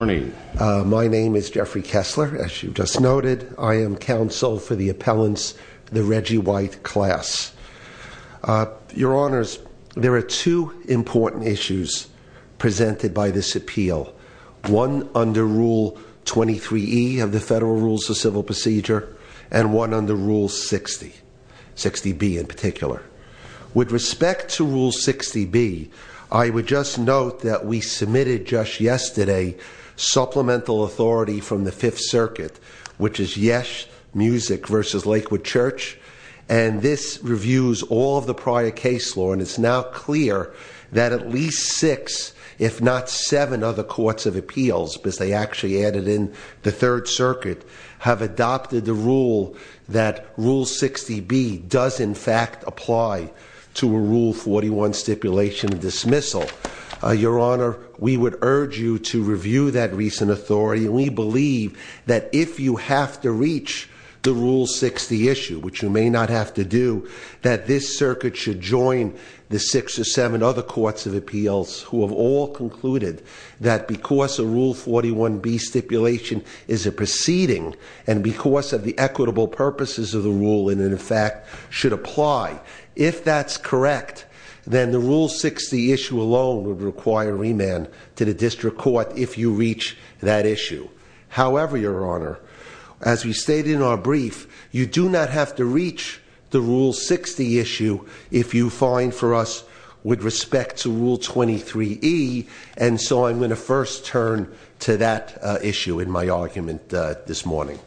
Good morning. My name is Jeffrey Kessler, as you just noted. I am counsel for the appellants, the Reggie White class. Your Honors, there are two important issues presented by this appeal. One under Rule 23E of the Federal Rules of Civil Procedure, and one under Rule 60, 60B in particular. With respect to Rule 60B, I would just note that we submitted just yesterday supplemental authority from the Fifth Circuit, which is Yesh Music v. Lakewood Church, and this reviews all of the prior case law. And it's now clear that at least six, if not seven other courts of appeals, because they actually added in the Third Circuit, have adopted the rule that Rule 60B does in fact apply to a Rule 41 stipulation dismissal. Your Honor, we would urge you to review that recent authority. We believe that if you have to reach the Rule 60 issue, which you may not have to do, that this circuit should join the six or seven other courts of appeals, who have all concluded that because a Rule 41B stipulation is a proceeding, and because of the equitable purposes of the rule, and in fact should apply. If that's correct, then the Rule 60 issue alone would require remand to the district court if you reach that issue. However, Your Honor, as we stated in our brief, you do not have to reach the Rule 60 issue if you find for us with respect to Rule 23E. And so I'm going to first turn to that issue in my argument this morning.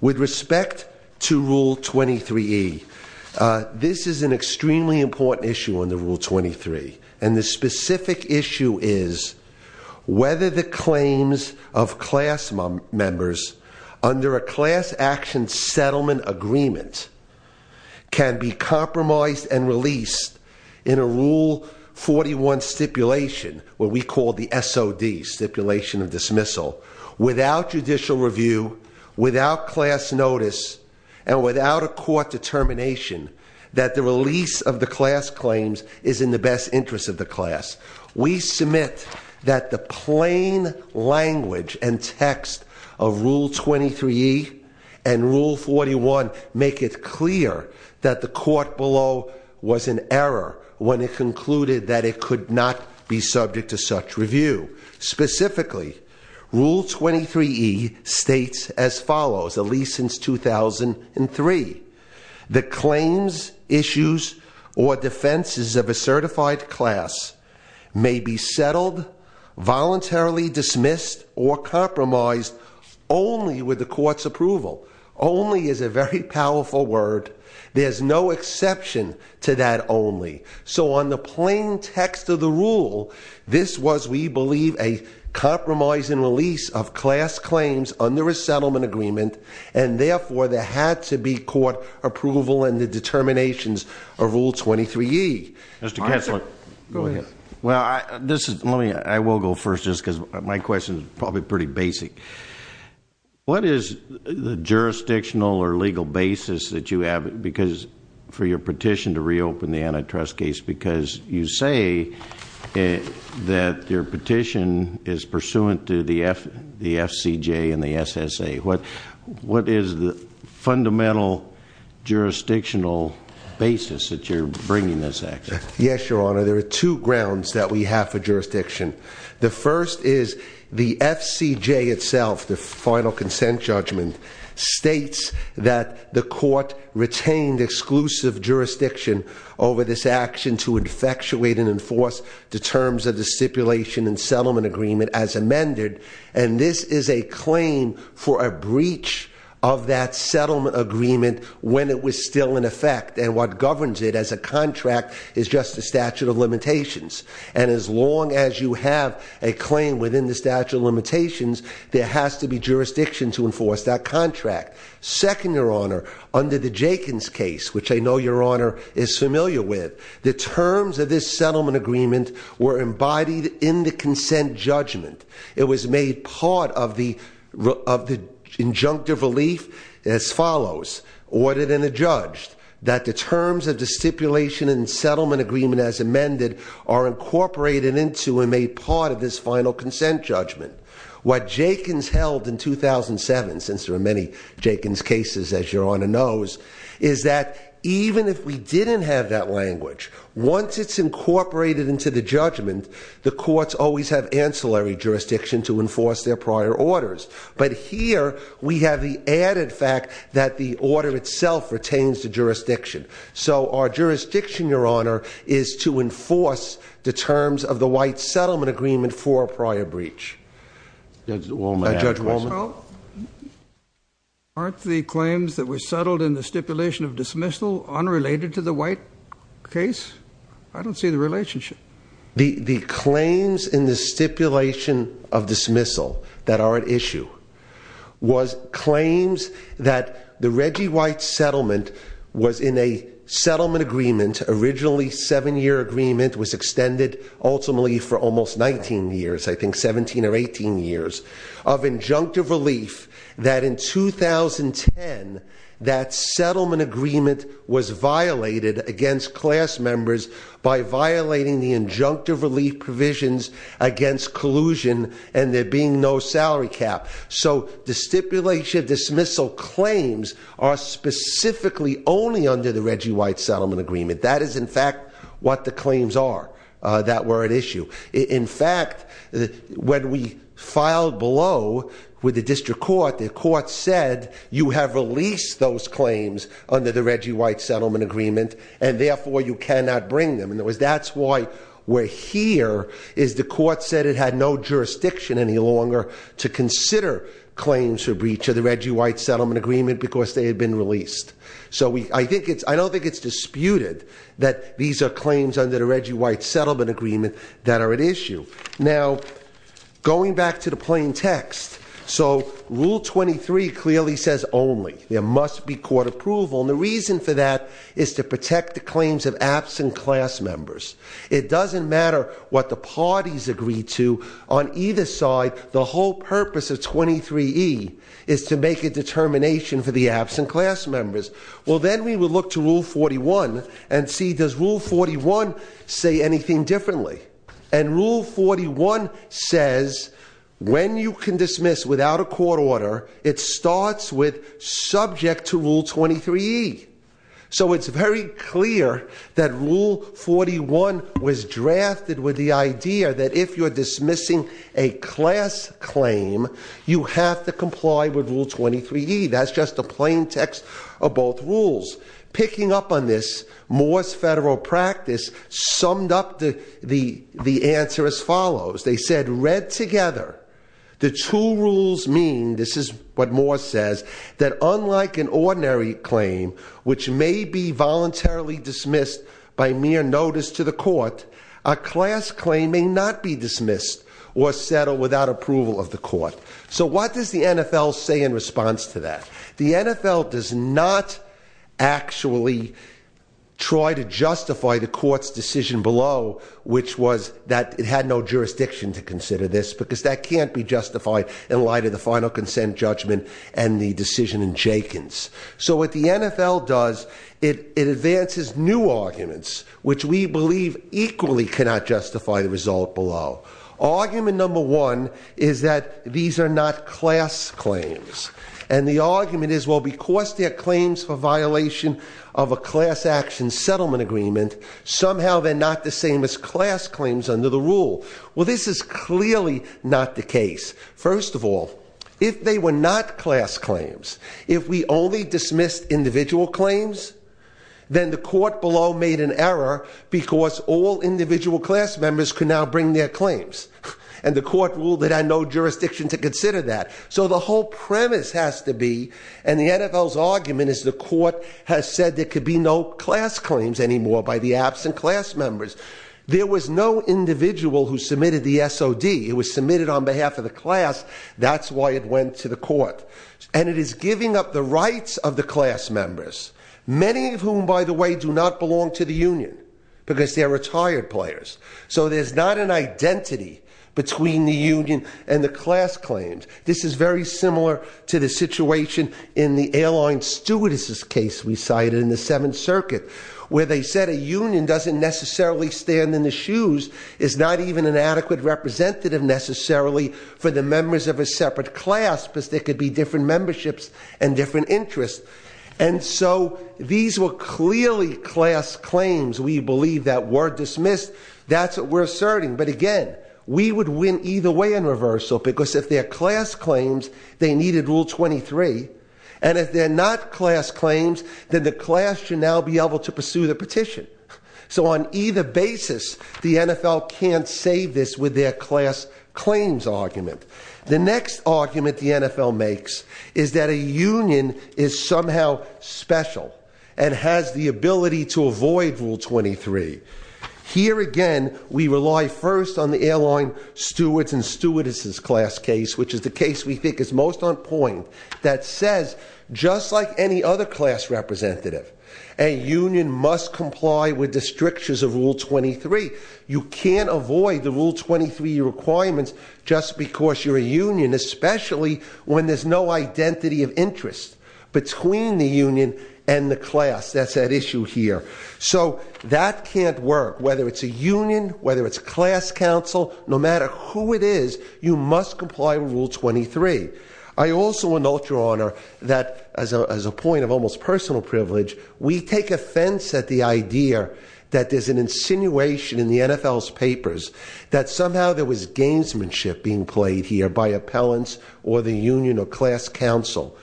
With respect to Rule 23E, this is an extremely important issue under Rule 23. And the specific issue is whether the claims of class members under a class action settlement agreement can be compromised and released in a Rule 41 stipulation, what we call the SOD, stipulation of dismissal, without judicial review, without class notice, and without a court determination that the release of the class claims is in the best interest of the class. We submit that the plain language and text of Rule 23E and Rule 41 make it clear that the court below was in error when it concluded that it could not be subject to such review. Specifically, Rule 23E states as follows, at least since 2003, the claims, issues, or defenses of a certified class may be settled, voluntarily dismissed, or compromised only with the court's approval. Only is a very powerful word. There's no exception to that only. So on the plain text of the rule, this was, we believe, a compromise and release of class claims under a settlement agreement. And therefore, there had to be court approval and the determinations of Rule 23E. Mr. Kessler. Go ahead. Well, I will go first just because my question is probably pretty basic. What is the jurisdictional or legal basis that you have, for your petition to reopen the antitrust case, because you say that your petition is pursuant to the FCJ and the SSA. What is the fundamental jurisdictional basis that you're bringing this act to? Yes, Your Honor. There are two grounds that we have for jurisdiction. The first is the FCJ itself, the final consent judgment, states that the court retained exclusive jurisdiction over this action to infectuate and enforce the terms of the stipulation and settlement agreement as amended. And this is a claim for a breach of that settlement agreement when it was still in effect. And what governs it as a contract is just a statute of limitations. And as long as you have a claim within the statute of limitations, there has to be jurisdiction to enforce that contract. Second, Your Honor, under the Jenkins case, which I know Your Honor is familiar with, the terms of this settlement agreement were embodied in the consent judgment. It was made part of the injunctive relief as follows, ordered and adjudged that the terms of the stipulation and settlement agreement as amended are incorporated into and made part of this final consent judgment. What Jenkins held in 2007, since there are many Jenkins cases, as Your Honor knows, is that even if we didn't have that language, once it's incorporated into the judgment, the courts always have ancillary jurisdiction to enforce their prior orders. But here, we have the added fact that the order itself retains the jurisdiction. So our jurisdiction, Your Honor, is to enforce the terms of the white settlement agreement for a prior breach. Judge Wallman. Aren't the claims that were settled in the stipulation of dismissal unrelated to the white case? I don't see the relationship. The claims in the stipulation of dismissal that are at issue was claims that the Reggie White settlement was in a settlement agreement, originally seven year agreement was extended ultimately for almost 19 years. I think 17 or 18 years of injunctive relief that in 2010, that settlement agreement was violated against class members by violating the injunctive relief provisions against collusion and there being no salary cap. So the stipulation of dismissal claims are specifically only under the Reggie White settlement agreement. That is in fact what the claims are that were at issue. In fact, when we filed below with the district court, the court said you have released those claims under the Reggie White settlement agreement and therefore you cannot bring them. That's why we're here is the court said it had no jurisdiction any longer to consider claims for breach of the Reggie White settlement agreement because they had been released. So I don't think it's disputed that these are claims under the Reggie White settlement agreement that are at issue. Now, going back to the plain text, so Rule 23 clearly says only. There must be court approval. And the reason for that is to protect the claims of absent class members. It doesn't matter what the parties agree to. On either side, the whole purpose of 23E is to make a determination for the absent class members. Well, then we will look to Rule 41 and see does Rule 41 say anything differently. And Rule 41 says when you can dismiss without a court order, it starts with subject to Rule 23E. So it's very clear that Rule 41 was drafted with the idea that if you're dismissing a class claim, you have to comply with Rule 23E. That's just a plain text of both rules. Picking up on this, Moore's Federal Practice summed up the answer as follows. They said read together, the two rules mean, this is what Moore says, that unlike an ordinary claim which may be voluntarily dismissed by mere notice to the court, a class claim may not be dismissed or settled without approval of the court. So what does the NFL say in response to that? The NFL does not actually try to justify the court's decision below, which was that it had no jurisdiction to consider this, because that can't be justified in light of the final consent judgment and the decision in Jenkins. So what the NFL does, it advances new arguments, which we believe equally cannot justify the result below. Argument number one is that these are not class claims. And the argument is, well, because they're claims for violation of a class action settlement agreement, somehow they're not the same as class claims under the rule. Well, this is clearly not the case. First of all, if they were not class claims, if we only dismissed individual claims, then the court below made an error because all individual class members can now bring their claims. And the court ruled it had no jurisdiction to consider that. So the whole premise has to be, and the NFL's argument is, the court has said there could be no class claims anymore by the absent class members. There was no individual who submitted the SOD. It was submitted on behalf of the class. That's why it went to the court. And it is giving up the rights of the class members, many of whom, by the way, do not belong to the union because they're retired players. So there's not an identity between the union and the class claims. This is very similar to the situation in the airline stewardess' case we cited in the Seventh Circuit, where they said a union doesn't necessarily stand in the shoes, is not even an adequate representative necessarily for the members of a separate class, because there could be different memberships and different interests. And so these were clearly class claims. We believe that were dismissed. That's what we're asserting. But again, we would win either way in reversal, because if they're class claims, they needed Rule 23. And if they're not class claims, then the class should now be able to pursue the petition. So on either basis, the NFL can't save this with their class claims argument. The next argument the NFL makes is that a union is somehow special and has the ability to avoid Rule 23. Here again, we rely first on the airline stewards and stewardess' class case, which is the case we think is most on point, that says, just like any other class representative, a union must comply with the strictures of Rule 23. You can't avoid the Rule 23 requirements just because you're a union, especially when there's no identity of interest between the union and the class. That's at issue here. So that can't work, whether it's a union, whether it's class counsel. No matter who it is, you must comply with Rule 23. I also want to note, Your Honor, that as a point of almost personal privilege, we take offense at the idea that there's an insinuation in the NFL's papers that somehow there was gamesmanship being played here by appellants or the union or class counsel.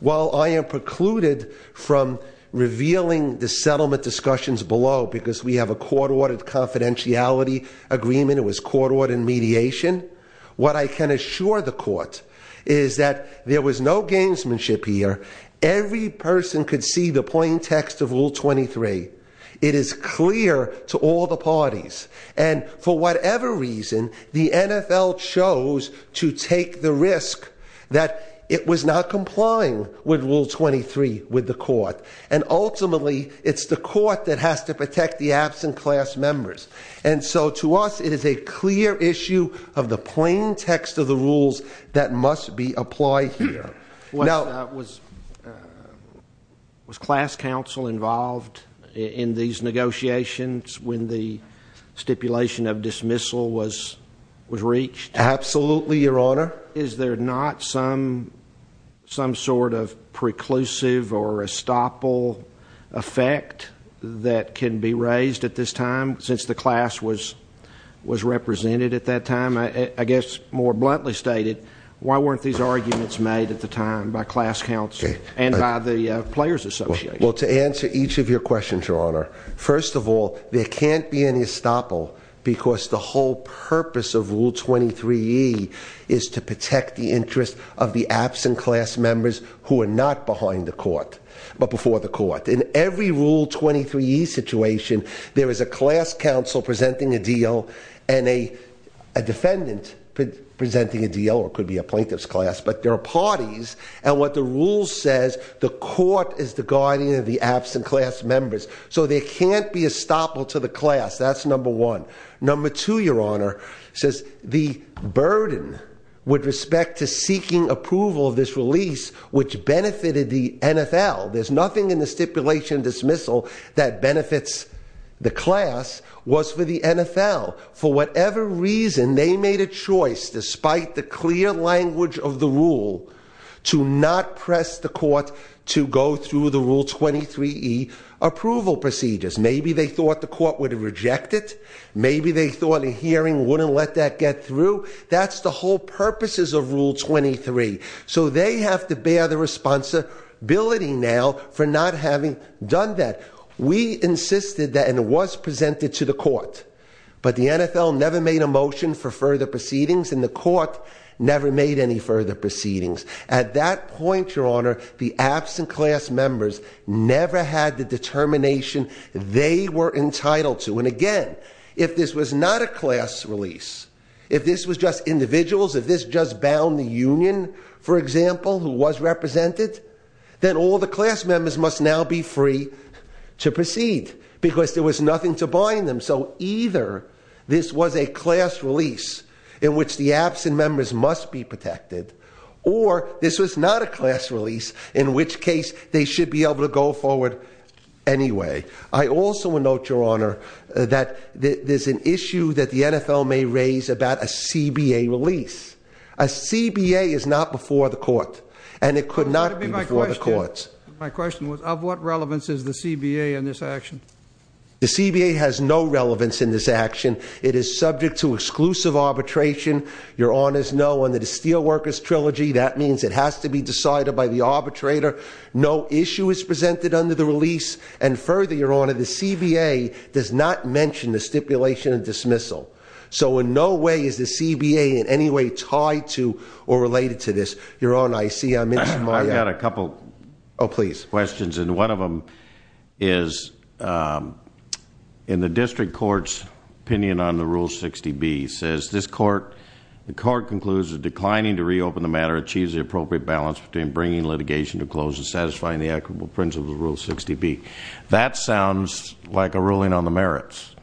While I am precluded from revealing the settlement discussions below, because we have a court-ordered confidentiality agreement, it was court-ordered mediation, what I can assure the court is that there was no gamesmanship here. Every person could see the plain text of Rule 23. It is clear to all the parties. And for whatever reason, the NFL chose to take the risk that it was not complying with Rule 23 with the court. And ultimately, it's the court that has to protect the absent class members. And so to us, it is a clear issue of the plain text of the rules that must be applied here. Was class counsel involved in these negotiations when the stipulation of dismissal was reached? Absolutely, Your Honor. Is there not some sort of preclusive or estoppel effect that can be raised at this time, since the class was represented at that time? I guess more bluntly stated, why weren't these arguments made at the time by class counsel and by the players' association? Well, to answer each of your questions, Your Honor, first of all, there can't be any estoppel because the whole purpose of Rule 23E is to protect the interests of the absent class members who are not behind the court but before the court. In every Rule 23E situation, there is a class counsel presenting a deal and a defendant presenting a deal, or it could be a plaintiff's class. But there are parties, and what the rule says, the court is the guardian of the absent class members. So there can't be estoppel to the class, that's number one. Number two, Your Honor, says the burden with respect to seeking approval of this release, which benefited the NFL. There's nothing in the stipulation dismissal that benefits the class, was for the NFL. For whatever reason, they made a choice, despite the clear language of the rule, to not press the court to go through the Rule 23E approval procedures. Maybe they thought the court would reject it. Maybe they thought a hearing wouldn't let that get through. That's the whole purposes of Rule 23. So they have to bear the responsibility now for not having done that. We insisted that, and it was presented to the court. But the NFL never made a motion for further proceedings, and the court never made any further proceedings. At that point, Your Honor, the absent class members never had the determination they were entitled to. And again, if this was not a class release, if this was just individuals, if this just bound the union, for example, who was represented, then all the class members must now be free to proceed, because there was nothing to bind them. So either this was a class release, in which the absent members must be protected, or this was not a class release, in which case they should be able to go forward anyway. I also note, Your Honor, that there's an issue that the NFL may raise about a CBA release. A CBA is not before the court, and it could not be before the courts. My question was, of what relevance is the CBA in this action? The CBA has no relevance in this action. It is subject to exclusive arbitration. Your Honors know, under the Steelworkers Trilogy, that means it has to be decided by the arbitrator. No issue is presented under the release. And further, Your Honor, the CBA does not mention the stipulation of dismissal. So in no way is the CBA in any way tied to or related to this. Your Honor, I see I missed my- I've got a couple- Oh, please. Questions, and one of them is in the district court's opinion on the Rule 60B, it says the court concludes that declining to reopen the matter achieves the appropriate balance between bringing litigation to a close and satisfying the equitable principles of Rule 60B. That sounds like a ruling on the merits,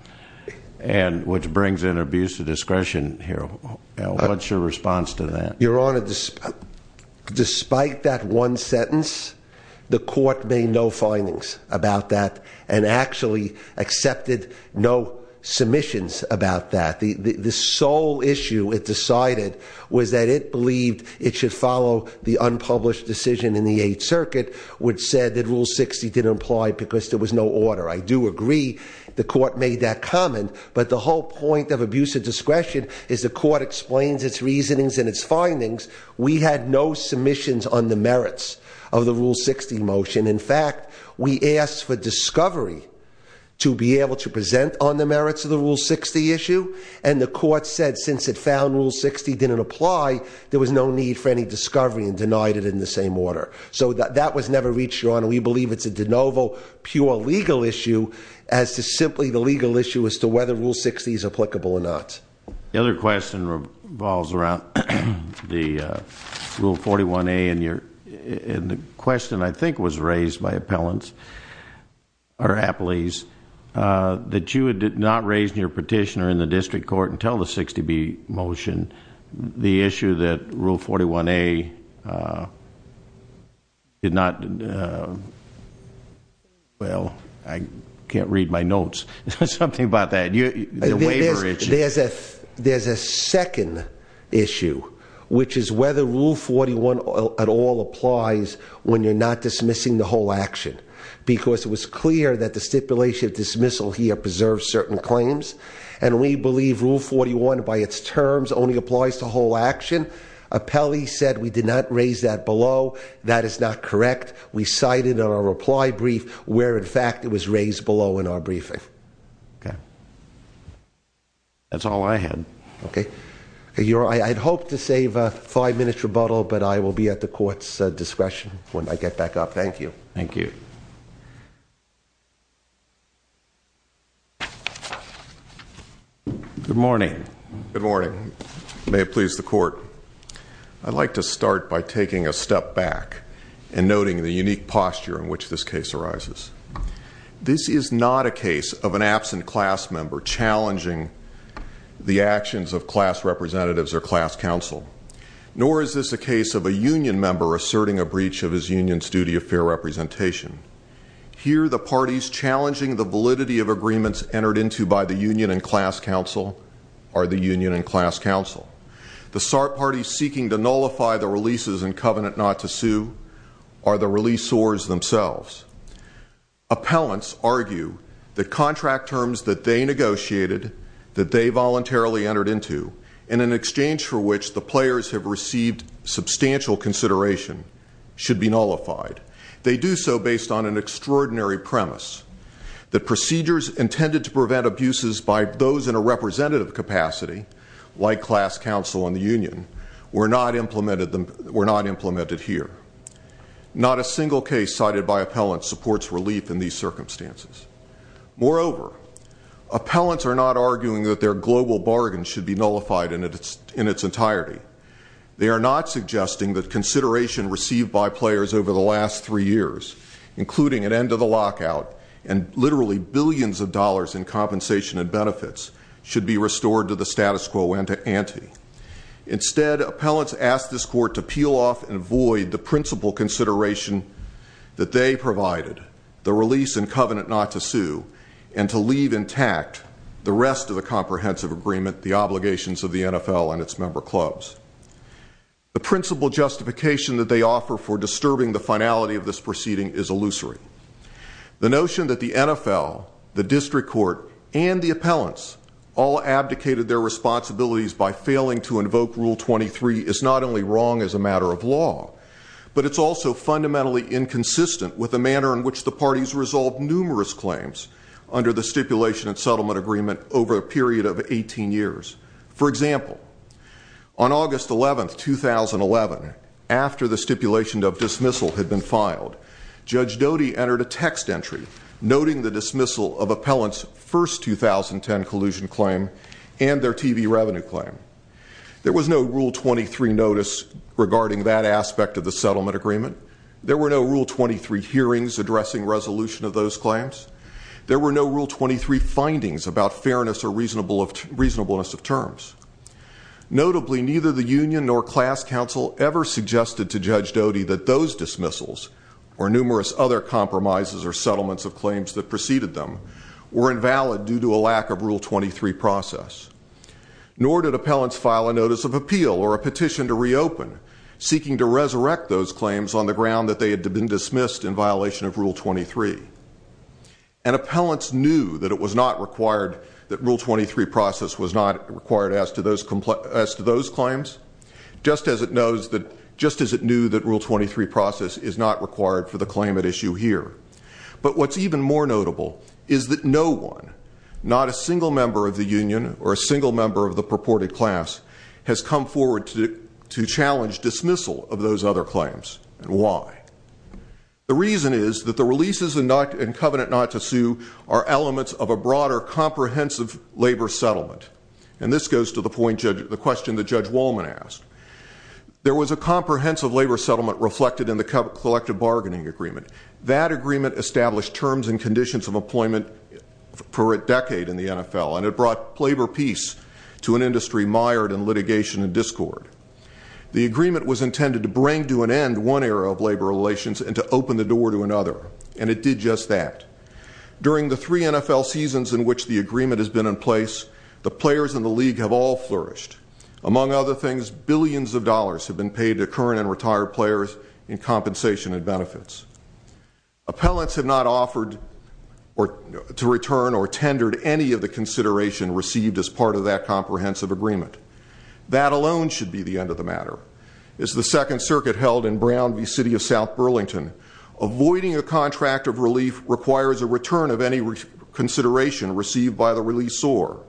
which brings in an abuse of discretion here. What's your response to that? Your Honor, despite that one sentence, the court made no findings about that and actually accepted no submissions about that. The sole issue it decided was that it believed it should follow the unpublished decision in the Eighth Circuit, which said that Rule 60 didn't apply because there was no order. I do agree the court made that comment, but the whole point of abuse of discretion is the court explains its reasonings and its findings. We had no submissions on the merits of the Rule 60 motion. In fact, we asked for discovery to be able to present on the merits of the Rule 60 issue, and the court said since it found Rule 60 didn't apply, there was no need for any discovery and denied it in the same order. So that was never reached, Your Honor. We believe it's a de novo pure legal issue as to simply the legal issue as to whether Rule 60 is applicable or not. The other question revolves around the Rule 41A, and the question I think was raised by appellants or appellees, that you had not raised in your petition or in the district court until the 60B motion and the issue that Rule 41A did not, well, I can't read my notes. Something about that, the waiver issue. There's a second issue, which is whether Rule 41 at all applies when you're not dismissing the whole action, because it was clear that the stipulation of dismissal here preserves certain claims, and we believe Rule 41 by its terms only applies to whole action. Appellee said we did not raise that below. That is not correct. We cited a reply brief where, in fact, it was raised below in our briefing. Okay. That's all I had. Okay. I'd hoped to save a five-minute rebuttal, but I will be at the court's discretion when I get back up. Thank you. Thank you. Good morning. Good morning. May it please the court. I'd like to start by taking a step back and noting the unique posture in which this case arises. This is not a case of an absent class member challenging the actions of class representatives or class counsel, nor is this a case of a union member asserting a breach of his union's duty of fair representation. Here, the parties challenging the validity of agreements entered into by the union and class counsel are the union and class counsel. The SART parties seeking to nullify the releases in covenant not to sue are the releaseors themselves. Appellants argue that contract terms that they negotiated, that they voluntarily entered into, and in exchange for which the players have received substantial consideration, should be nullified. They do so based on an extraordinary premise, that procedures intended to prevent abuses by those in a representative capacity, like class counsel and the union, were not implemented here. Not a single case cited by appellants supports relief in these circumstances. Moreover, appellants are not arguing that their global bargain should be nullified in its entirety. They are not suggesting that consideration received by players over the last three years, including an end to the lockout and literally billions of dollars in compensation and benefits, should be restored to the status quo ante. Instead, appellants ask this court to peel off and void the principal consideration that they provided, the release in covenant not to sue, and to leave intact the rest of the comprehensive agreement, the obligations of the NFL and its member clubs. The principal justification that they offer for disturbing the finality of this proceeding is illusory. The notion that the NFL, the district court, and the appellants all abdicated their responsibilities by failing to invoke Rule 23 is not only wrong as a matter of law, but it's also fundamentally inconsistent with the manner in which the parties resolved numerous claims under the stipulation and settlement agreement over a period of 18 years. For example, on August 11, 2011, after the stipulation of dismissal had been filed, Judge Doty entered a text entry noting the dismissal of appellants' first 2010 collusion claim and their TV revenue claim. There was no Rule 23 notice regarding that aspect of the settlement agreement. There were no Rule 23 hearings addressing resolution of those claims. There were no Rule 23 findings about fairness or reasonableness of terms. Notably, neither the union nor class council ever suggested to Judge Doty that those dismissals, or numerous other compromises or settlements of claims that preceded them, were invalid due to a lack of Rule 23 process. Nor did appellants file a notice of appeal or a petition to reopen seeking to resurrect those claims on the ground that they had been dismissed in violation of Rule 23. And appellants knew that it was not required that Rule 23 process was not required as to those claims, just as it knew that Rule 23 process is not required for the claim at issue here. But what's even more notable is that no one, not a single member of the union or a single member of the purported class, has come forward to challenge dismissal of those other claims, and why. The reason is that the releases in Covenant Not to Sue are elements of a broader comprehensive labor settlement. And this goes to the question that Judge Wallman asked. There was a comprehensive labor settlement reflected in the collective bargaining agreement. That agreement established terms and conditions of employment for a decade in the NFL, and it brought labor peace to an industry mired in litigation and discord. The agreement was intended to bring to an end one era of labor relations and to open the door to another, and it did just that. During the three NFL seasons in which the agreement has been in place, the players in the league have all flourished. Among other things, billions of dollars have been paid to current and retired players in compensation and benefits. Appellants have not offered to return or tendered any of the consideration received as part of that comprehensive agreement. That alone should be the end of the matter. As the Second Circuit held in Brown v. City of South Burlington, avoiding a contract of relief requires a return of any consideration received by the releaseor.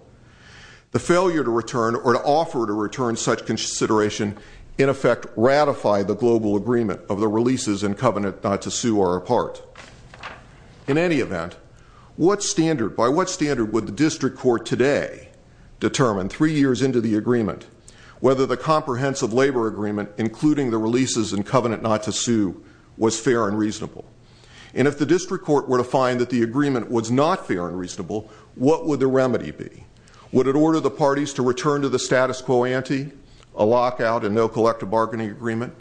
The failure to return or to offer to return such consideration, in effect, ratified the global agreement of the releases in Covenant Not to Sue are apart. In any event, by what standard would the district court today determine three years into the agreement whether the comprehensive labor agreement, including the releases in Covenant Not to Sue, was fair and reasonable? And if the district court were to find that the agreement was not fair and reasonable, what would the remedy be? Would it order the parties to return to the status quo ante, a lockout and no collective bargaining agreement?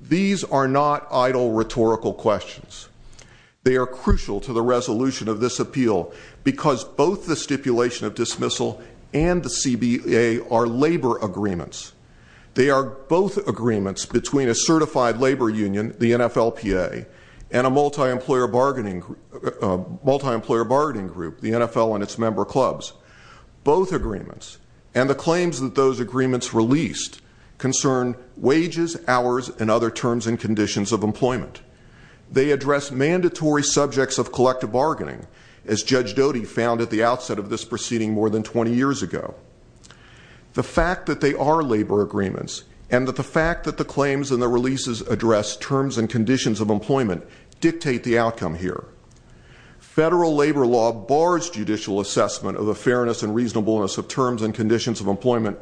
These are not idle rhetorical questions. They are crucial to the resolution of this appeal because both the stipulation of dismissal and the CBA are labor agreements. They are both agreements between a certified labor union, the NFLPA, and a multi-employer bargaining group, the NFL and its member clubs. Both agreements and the claims that those agreements released concern wages, hours, and other terms and conditions of employment. They address mandatory subjects of collective bargaining, as Judge Doty found at the outset of this proceeding more than 20 years ago. The fact that they are labor agreements and that the fact that the claims and the releases address terms and conditions of employment dictate the outcome here. Federal labor law bars judicial assessment of the fairness and reasonableness of terms and conditions of employment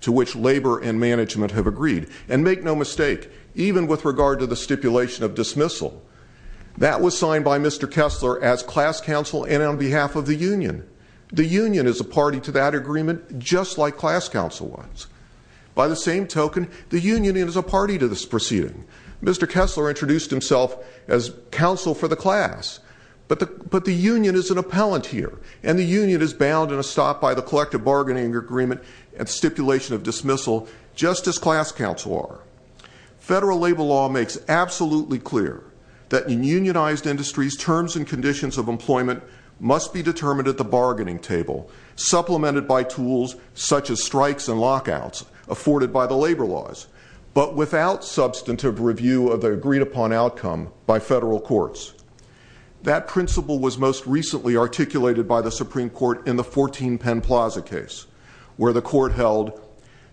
to which labor and management have agreed. And make no mistake, even with regard to the stipulation of dismissal, that was signed by Mr. Kessler as class counsel and on behalf of the union. The union is a party to that agreement, just like class counsel was. By the same token, the union is a party to this proceeding. Mr. Kessler introduced himself as counsel for the class, but the union is an appellant here. And the union is bound in a stop by the collective bargaining agreement and stipulation of dismissal, just as class counsel are. Federal labor law makes absolutely clear that in unionized industries, terms and conditions of employment must be determined at the bargaining table. Supplemented by tools such as strikes and lockouts afforded by the labor laws, but without substantive review of the agreed upon outcome by federal courts. That principle was most recently articulated by the Supreme Court in the 14 Penn Plaza case, where the court held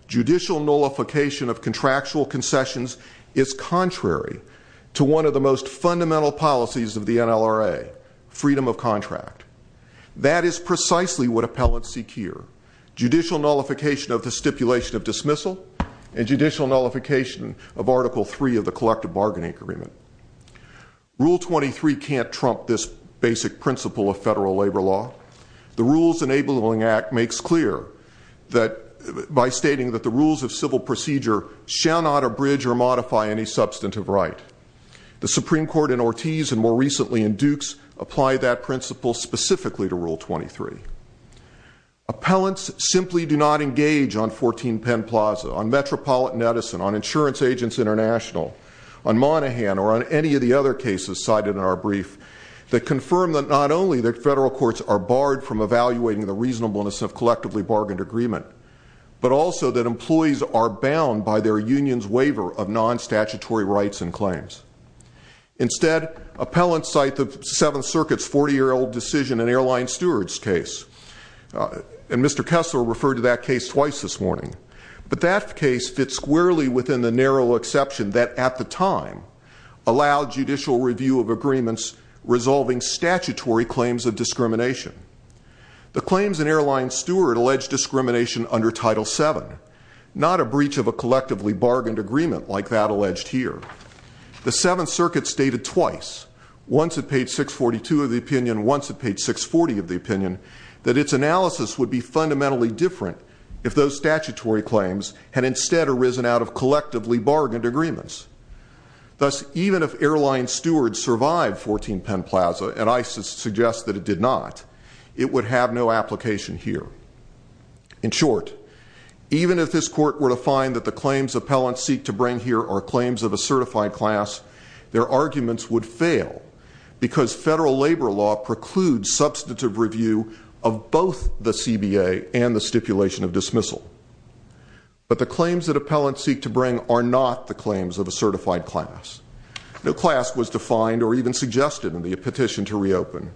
judicial nullification of contractual concessions is contrary to one of the most fundamental policies of the NLRA, freedom of contract. That is precisely what appellants seek here. Judicial nullification of the stipulation of dismissal and judicial nullification of Article 3 of the Collective Bargaining Agreement. Rule 23 can't trump this basic principle of federal labor law. The Rules Enabling Act makes clear that by stating that the rules of civil procedure shall not abridge or modify any substantive right. The Supreme Court in Ortiz and more recently in Dukes apply that principle specifically to Rule 23. Appellants simply do not engage on 14 Penn Plaza, on Metropolitan Edison, on Insurance Agents International, on Monaghan, or on any of the other cases cited in our brief that confirm that not only that federal courts are barred from evaluating the reasonableness of collectively bargained agreement, but also that employees are bound by their union's waiver of non-statutory rights and claims. Instead, appellants cite the Seventh Circuit's 40-year-old decision in Airline Steward's case. And Mr. Kessler referred to that case twice this morning. But that case fits squarely within the narrow exception that at the time allowed judicial review of agreements resolving statutory claims of discrimination. The claims in Airline Steward alleged discrimination under Title VII, not a breach of a collectively bargained agreement like that alleged here. The Seventh Circuit stated twice, once at page 642 of the opinion, once at page 640 of the opinion, that its analysis would be fundamentally different if those statutory claims had instead arisen out of collectively bargained agreements. Thus, even if Airline Steward survived 14 Penn Plaza, and ISIS suggests that it did not, it would have no application here. In short, even if this court were to find that the claims appellants seek to bring here are claims of a certified class, their arguments would fail because federal labor law precludes substantive review of both the CBA and the stipulation of dismissal. But the claims that appellants seek to bring are not the claims of a certified class. No class was defined or even suggested in the petition to reopen.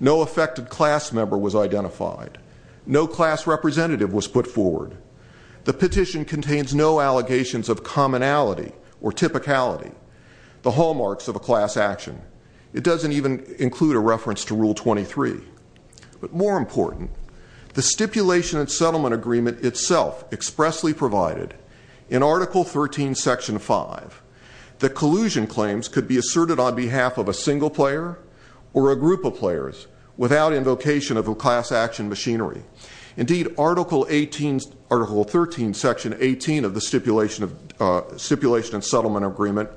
No affected class member was identified. No class representative was put forward. The petition contains no allegations of commonality or typicality, the hallmarks of a class action. It doesn't even include a reference to Rule 23. But more important, the stipulation and settlement agreement itself expressly provided in Article 13, Section 5, that collusion claims could be asserted on behalf of a single player or a group of players without invocation of a class action machinery. Indeed, Article 13, Section 18 of the Stipulation and Settlement Agreement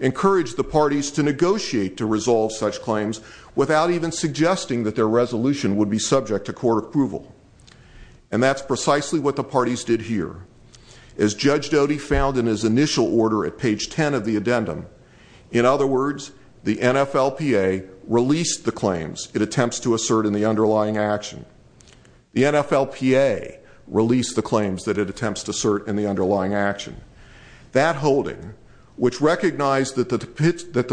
encouraged the parties to negotiate to resolve such claims without even suggesting that their resolution would be subject to court approval. And that's precisely what the parties did here. As Judge Doty found in his initial order at page 10 of the addendum, in other words, the NFLPA released the claims it attempts to assert in the underlying action. The NFLPA released the claims that it attempts to assert in the underlying action. That holding, which recognized that the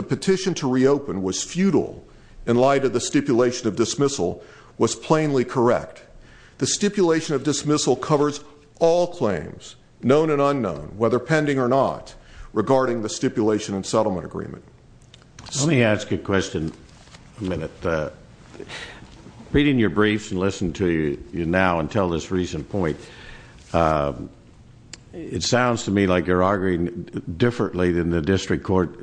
petition to reopen was futile in light of the stipulation of dismissal, was plainly correct. The stipulation of dismissal covers all claims, known and unknown, whether pending or not, regarding the Stipulation and Settlement Agreement. Let me ask you a question. A minute. Reading your briefs and listening to you now until this recent point, it sounds to me like you're arguing differently than the district court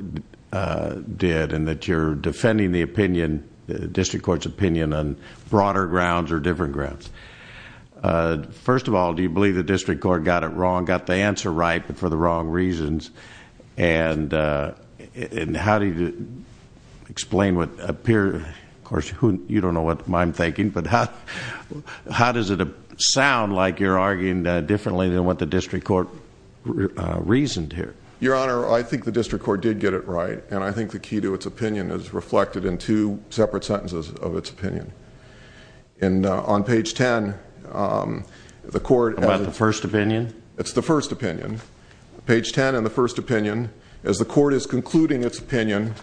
did and that you're defending the opinion, the district court's opinion, on broader grounds or different grounds. And how do you explain what appeared? Of course, you don't know what I'm thinking, but how does it sound like you're arguing differently than what the district court reasoned here? Your Honor, I think the district court did get it right, and I think the key to its opinion is reflected in two separate sentences of its opinion. And on page 10, the court... About the first opinion? It's the first opinion. Page 10 in the first opinion, as the court is concluding its opinion,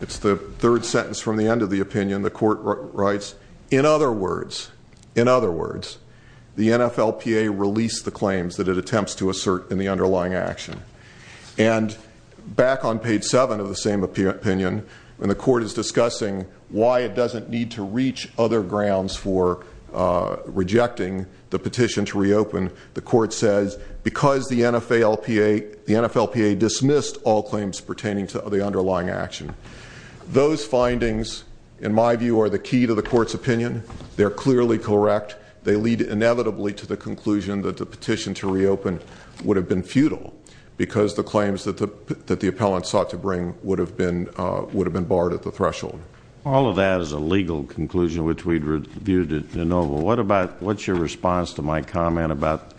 it's the third sentence from the end of the opinion, the court writes, In other words, in other words, the NFLPA released the claims that it attempts to assert in the underlying action. And back on page 7 of the same opinion, when the court is discussing why it doesn't need to reach other grounds for rejecting the petition to reopen, the court says, Because the NFLPA dismissed all claims pertaining to the underlying action. Those findings, in my view, are the key to the court's opinion. They're clearly correct. They lead inevitably to the conclusion that the petition to reopen would have been futile because the claims that the appellant sought to bring would have been barred at the threshold. All of that is a legal conclusion, which we've reviewed at de novo. What's your response to my comment about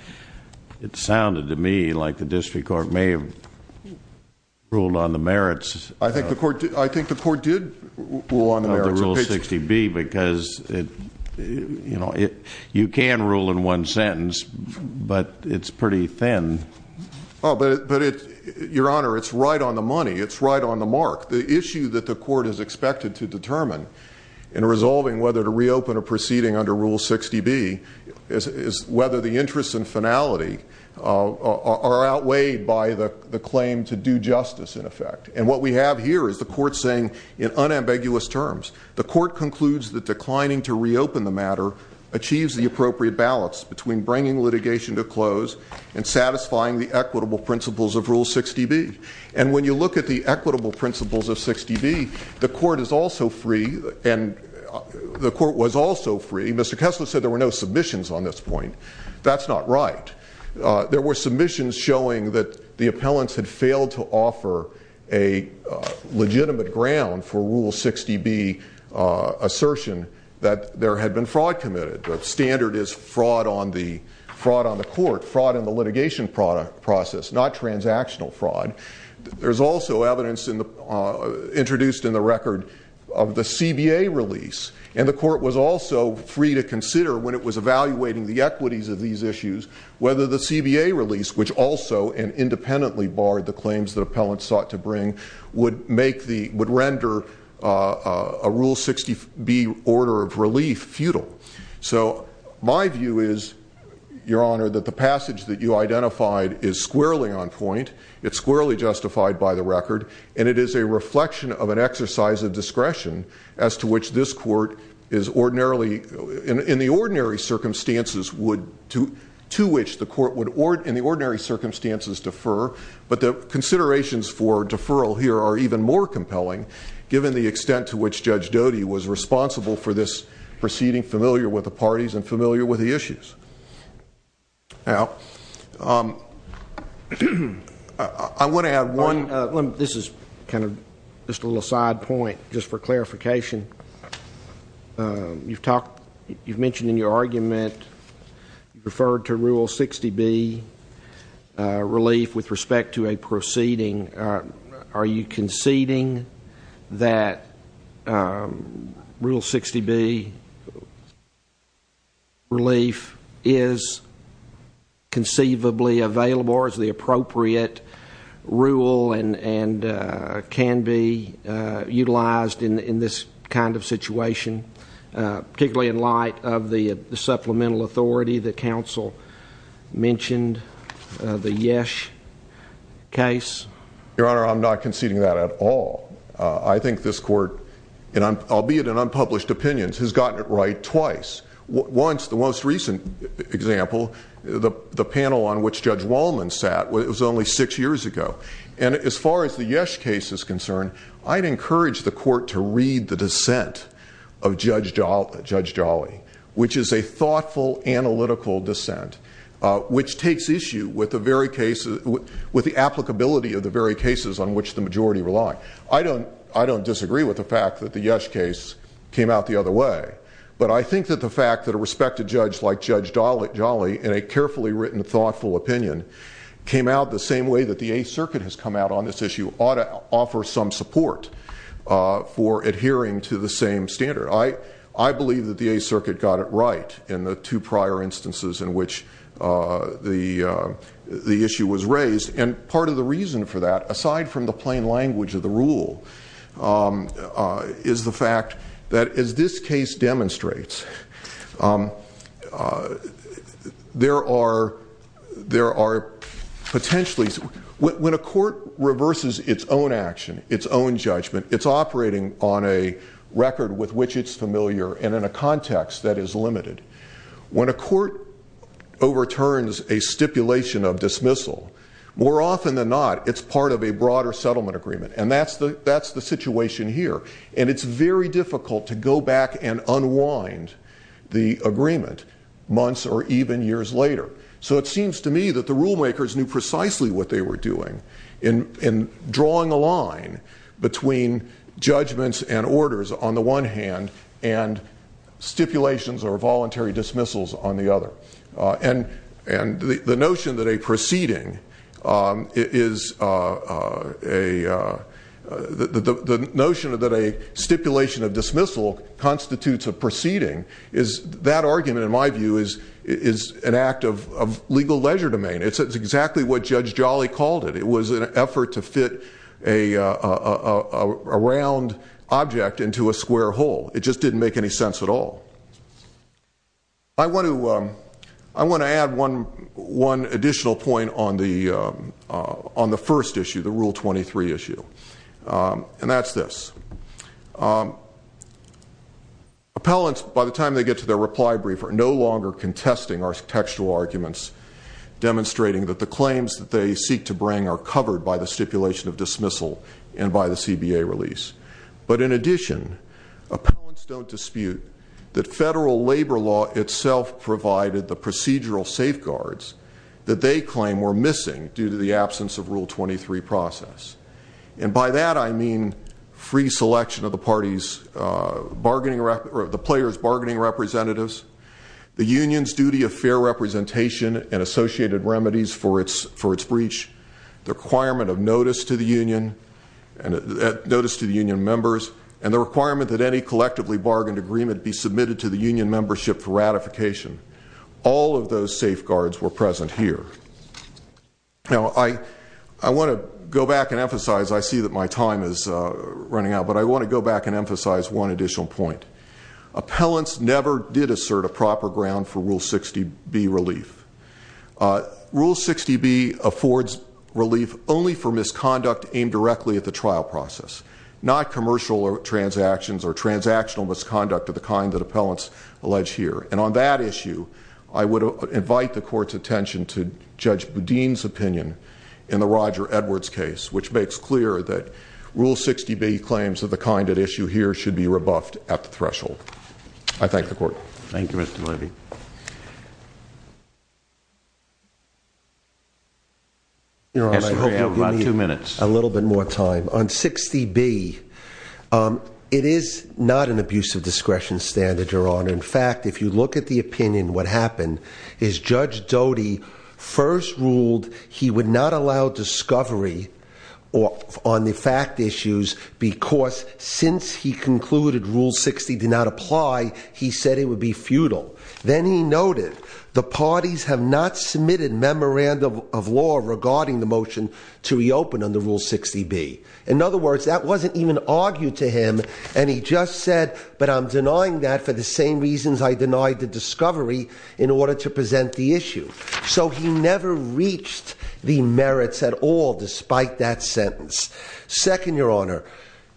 it sounded to me like the district court may have ruled on the merits... I think the court did rule on the merits of the Rule 60B because you can rule in one sentence, but it's pretty thin. Your Honor, it's right on the money. It's right on the mark. The issue that the court is expected to determine in resolving whether to reopen a proceeding under Rule 60B is whether the interest and finality are outweighed by the claim to do justice, in effect. And what we have here is the court saying, in unambiguous terms, the court concludes that declining to reopen the matter achieves the appropriate balance between bringing litigation to close and satisfying the equitable principles of Rule 60B. And when you look at the equitable principles of 60B, the court is also free and the court was also free. Mr. Kessler said there were no submissions on this point. That's not right. There were submissions showing that the appellants had failed to offer a legitimate ground for Rule 60B assertion that there had been fraud committed. The standard is fraud on the court, fraud in the litigation process, not transactional fraud. There's also evidence introduced in the record of the CBA release, and the court was also free to consider when it was evaluating the equities of these issues whether the CBA release, which also and independently barred the claims that appellants sought to bring, would render a Rule 60B order of relief futile. So my view is, Your Honor, that the passage that you identified is squarely on point, it's squarely justified by the record, and it is a reflection of an exercise of discretion as to which this court in the ordinary circumstances would defer, but the considerations for deferral here are even more compelling given the extent to which Judge Doty was responsible for this proceeding, familiar with the parties and familiar with the issues. Now, I want to add one. This is kind of just a little side point just for clarification. You've mentioned in your argument you referred to Rule 60B relief with respect to a proceeding. Are you conceding that Rule 60B relief is conceivably available or is the appropriate rule and can be utilized in this kind of situation, particularly in light of the supplemental authority that counsel mentioned, the Yesh case? Your Honor, I'm not conceding that at all. I think this court, albeit in unpublished opinions, has gotten it right twice. Once, the most recent example, the panel on which Judge Wallman sat was only six years ago, and as far as the Yesh case is concerned, I'd encourage the court to read the dissent of Judge Jolly, which is a thoughtful, analytical dissent, which takes issue with the applicability of the very cases on which the majority rely. I don't disagree with the fact that the Yesh case came out the other way, but I think that the fact that a respected judge like Judge Jolly, in a carefully written, thoughtful opinion, came out the same way that the Eighth Circuit has come out on this issue, ought to offer some support for adhering to the same standard. I believe that the Eighth Circuit got it right in the two prior instances in which the issue was raised, and part of the reason for that, aside from the plain language of the rule, is the fact that, as this case demonstrates, there are potentially, when a court reverses its own action, its own judgment, it's operating on a record with which it's familiar and in a context that is limited. When a court overturns a stipulation of dismissal, more often than not, it's part of a broader settlement agreement, and that's the situation here, and it's very difficult to go back and unwind the agreement months or even years later. So it seems to me that the rulemakers knew precisely what they were doing in drawing a line between judgments and orders on the one hand and stipulations or voluntary dismissals on the other. And the notion that a stipulation of dismissal constitutes a proceeding, that argument, in my view, is an act of legal leisure domain. It's exactly what Judge Jolly called it. It was an effort to fit a round object into a square hole. It just didn't make any sense at all. I want to add one additional point on the first issue, the Rule 23 issue, and that's this. Appellants, by the time they get to their reply briefer, are no longer contesting our textual arguments, demonstrating that the claims that they seek to bring are covered by the stipulation of dismissal and by the CBA release. But in addition, appellants don't dispute that federal labor law itself provided the procedural safeguards that they claim were missing due to the absence of Rule 23 process. And by that I mean free selection of the player's bargaining representatives, the union's duty of fair representation and associated remedies for its breach, the requirement of notice to the union members, and the requirement that any collectively bargained agreement be submitted to the union membership for ratification. All of those safeguards were present here. Now, I want to go back and emphasize, I see that my time is running out, but I want to go back and emphasize one additional point. Appellants never did assert a proper ground for Rule 60B relief. Rule 60B affords relief only for misconduct aimed directly at the trial process, not commercial transactions or transactional misconduct of the kind that appellants allege here. And on that issue, I would invite the Court's attention to Judge Boudin's opinion in the Roger Edwards case, which makes clear that Rule 60B claims of the kind at issue here should be rebuffed at the threshold. I thank the Court. Thank you, Mr. Levy. I hope you'll give me a little bit more time. On 60B, it is not an abuse of discretion standard, Your Honor. In fact, if you look at the opinion, what happened is Judge Doty first ruled he would not allow discovery on the fact issues because since he concluded Rule 60 did not apply, he said it would be futile. Then he noted the parties have not submitted memorandum of law regarding the motion to reopen under Rule 60B. In other words, that wasn't even argued to him, and he just said, but I'm denying that for the same reasons I denied the discovery in order to present the issue. So he never reached the merits at all despite that sentence. Second, Your Honor,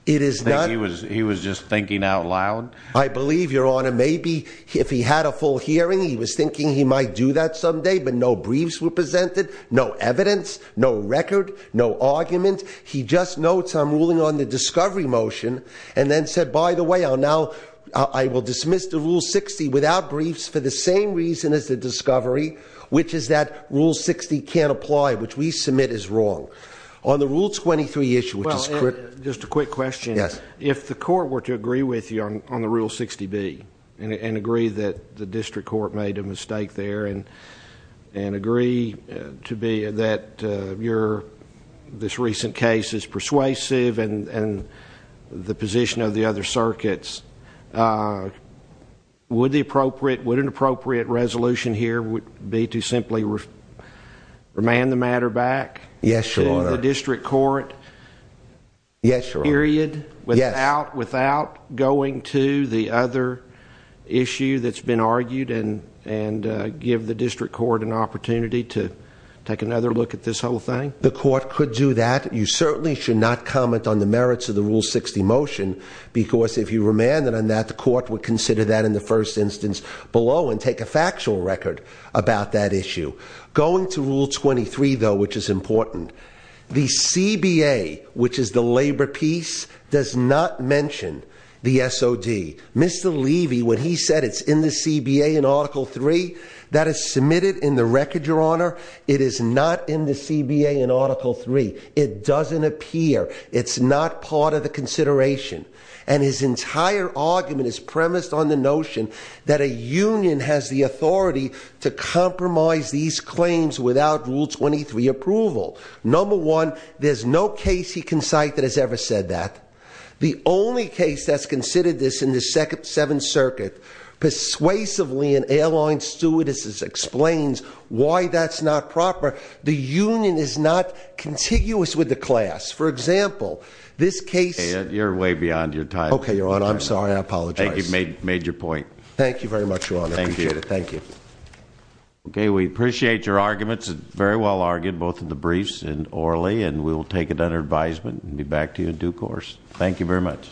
it is not- He was just thinking out loud? I believe, Your Honor, maybe if he had a full hearing, he was thinking he might do that someday, but no briefs were presented, no evidence, no record, no argument. He just notes I'm ruling on the discovery motion and then said, by the way, now I will dismiss the Rule 60 without briefs for the same reason as the discovery, which is that Rule 60 can't apply, which we submit is wrong. On the Rule 23 issue, which is correct- Just a quick question. Yes. If the court were to agree with you on the Rule 60B and agree that the district court made a mistake there and agree to be that this recent case is persuasive and the position of the other circuits, would an appropriate resolution here be to simply remand the matter back- Yes, Your Honor. ...period without going to the other issue that's been argued and give the district court an opportunity to take another look at this whole thing? The court could do that. You certainly should not comment on the merits of the Rule 60 motion because if you remanded on that, the court would consider that in the first instance below and take a factual record about that issue. Going to Rule 23, though, which is important, the CBA, which is the labor piece, does not mention the SOD. Mr. Levy, when he said it's in the CBA in Article 3, that is submitted in the record, Your Honor. It is not in the CBA in Article 3. It doesn't appear. It's not part of the consideration. And his entire argument is premised on the notion that a union has the authority to compromise these claims without Rule 23 approval. Number one, there's no case he can cite that has ever said that. The only case that's considered this in the Seventh Circuit, persuasively an airline stewardess explains why that's not proper. The union is not contiguous with the class. For example, this case- You're way beyond your time. Okay, Your Honor. I'm sorry. I apologize. I think you've made your point. Thank you very much, Your Honor. Thank you. I appreciate it. Thank you. Okay, we appreciate your arguments. Very well argued, both in the briefs and orally, and we'll take it under advisement and be back to you in due course. Thank you very much.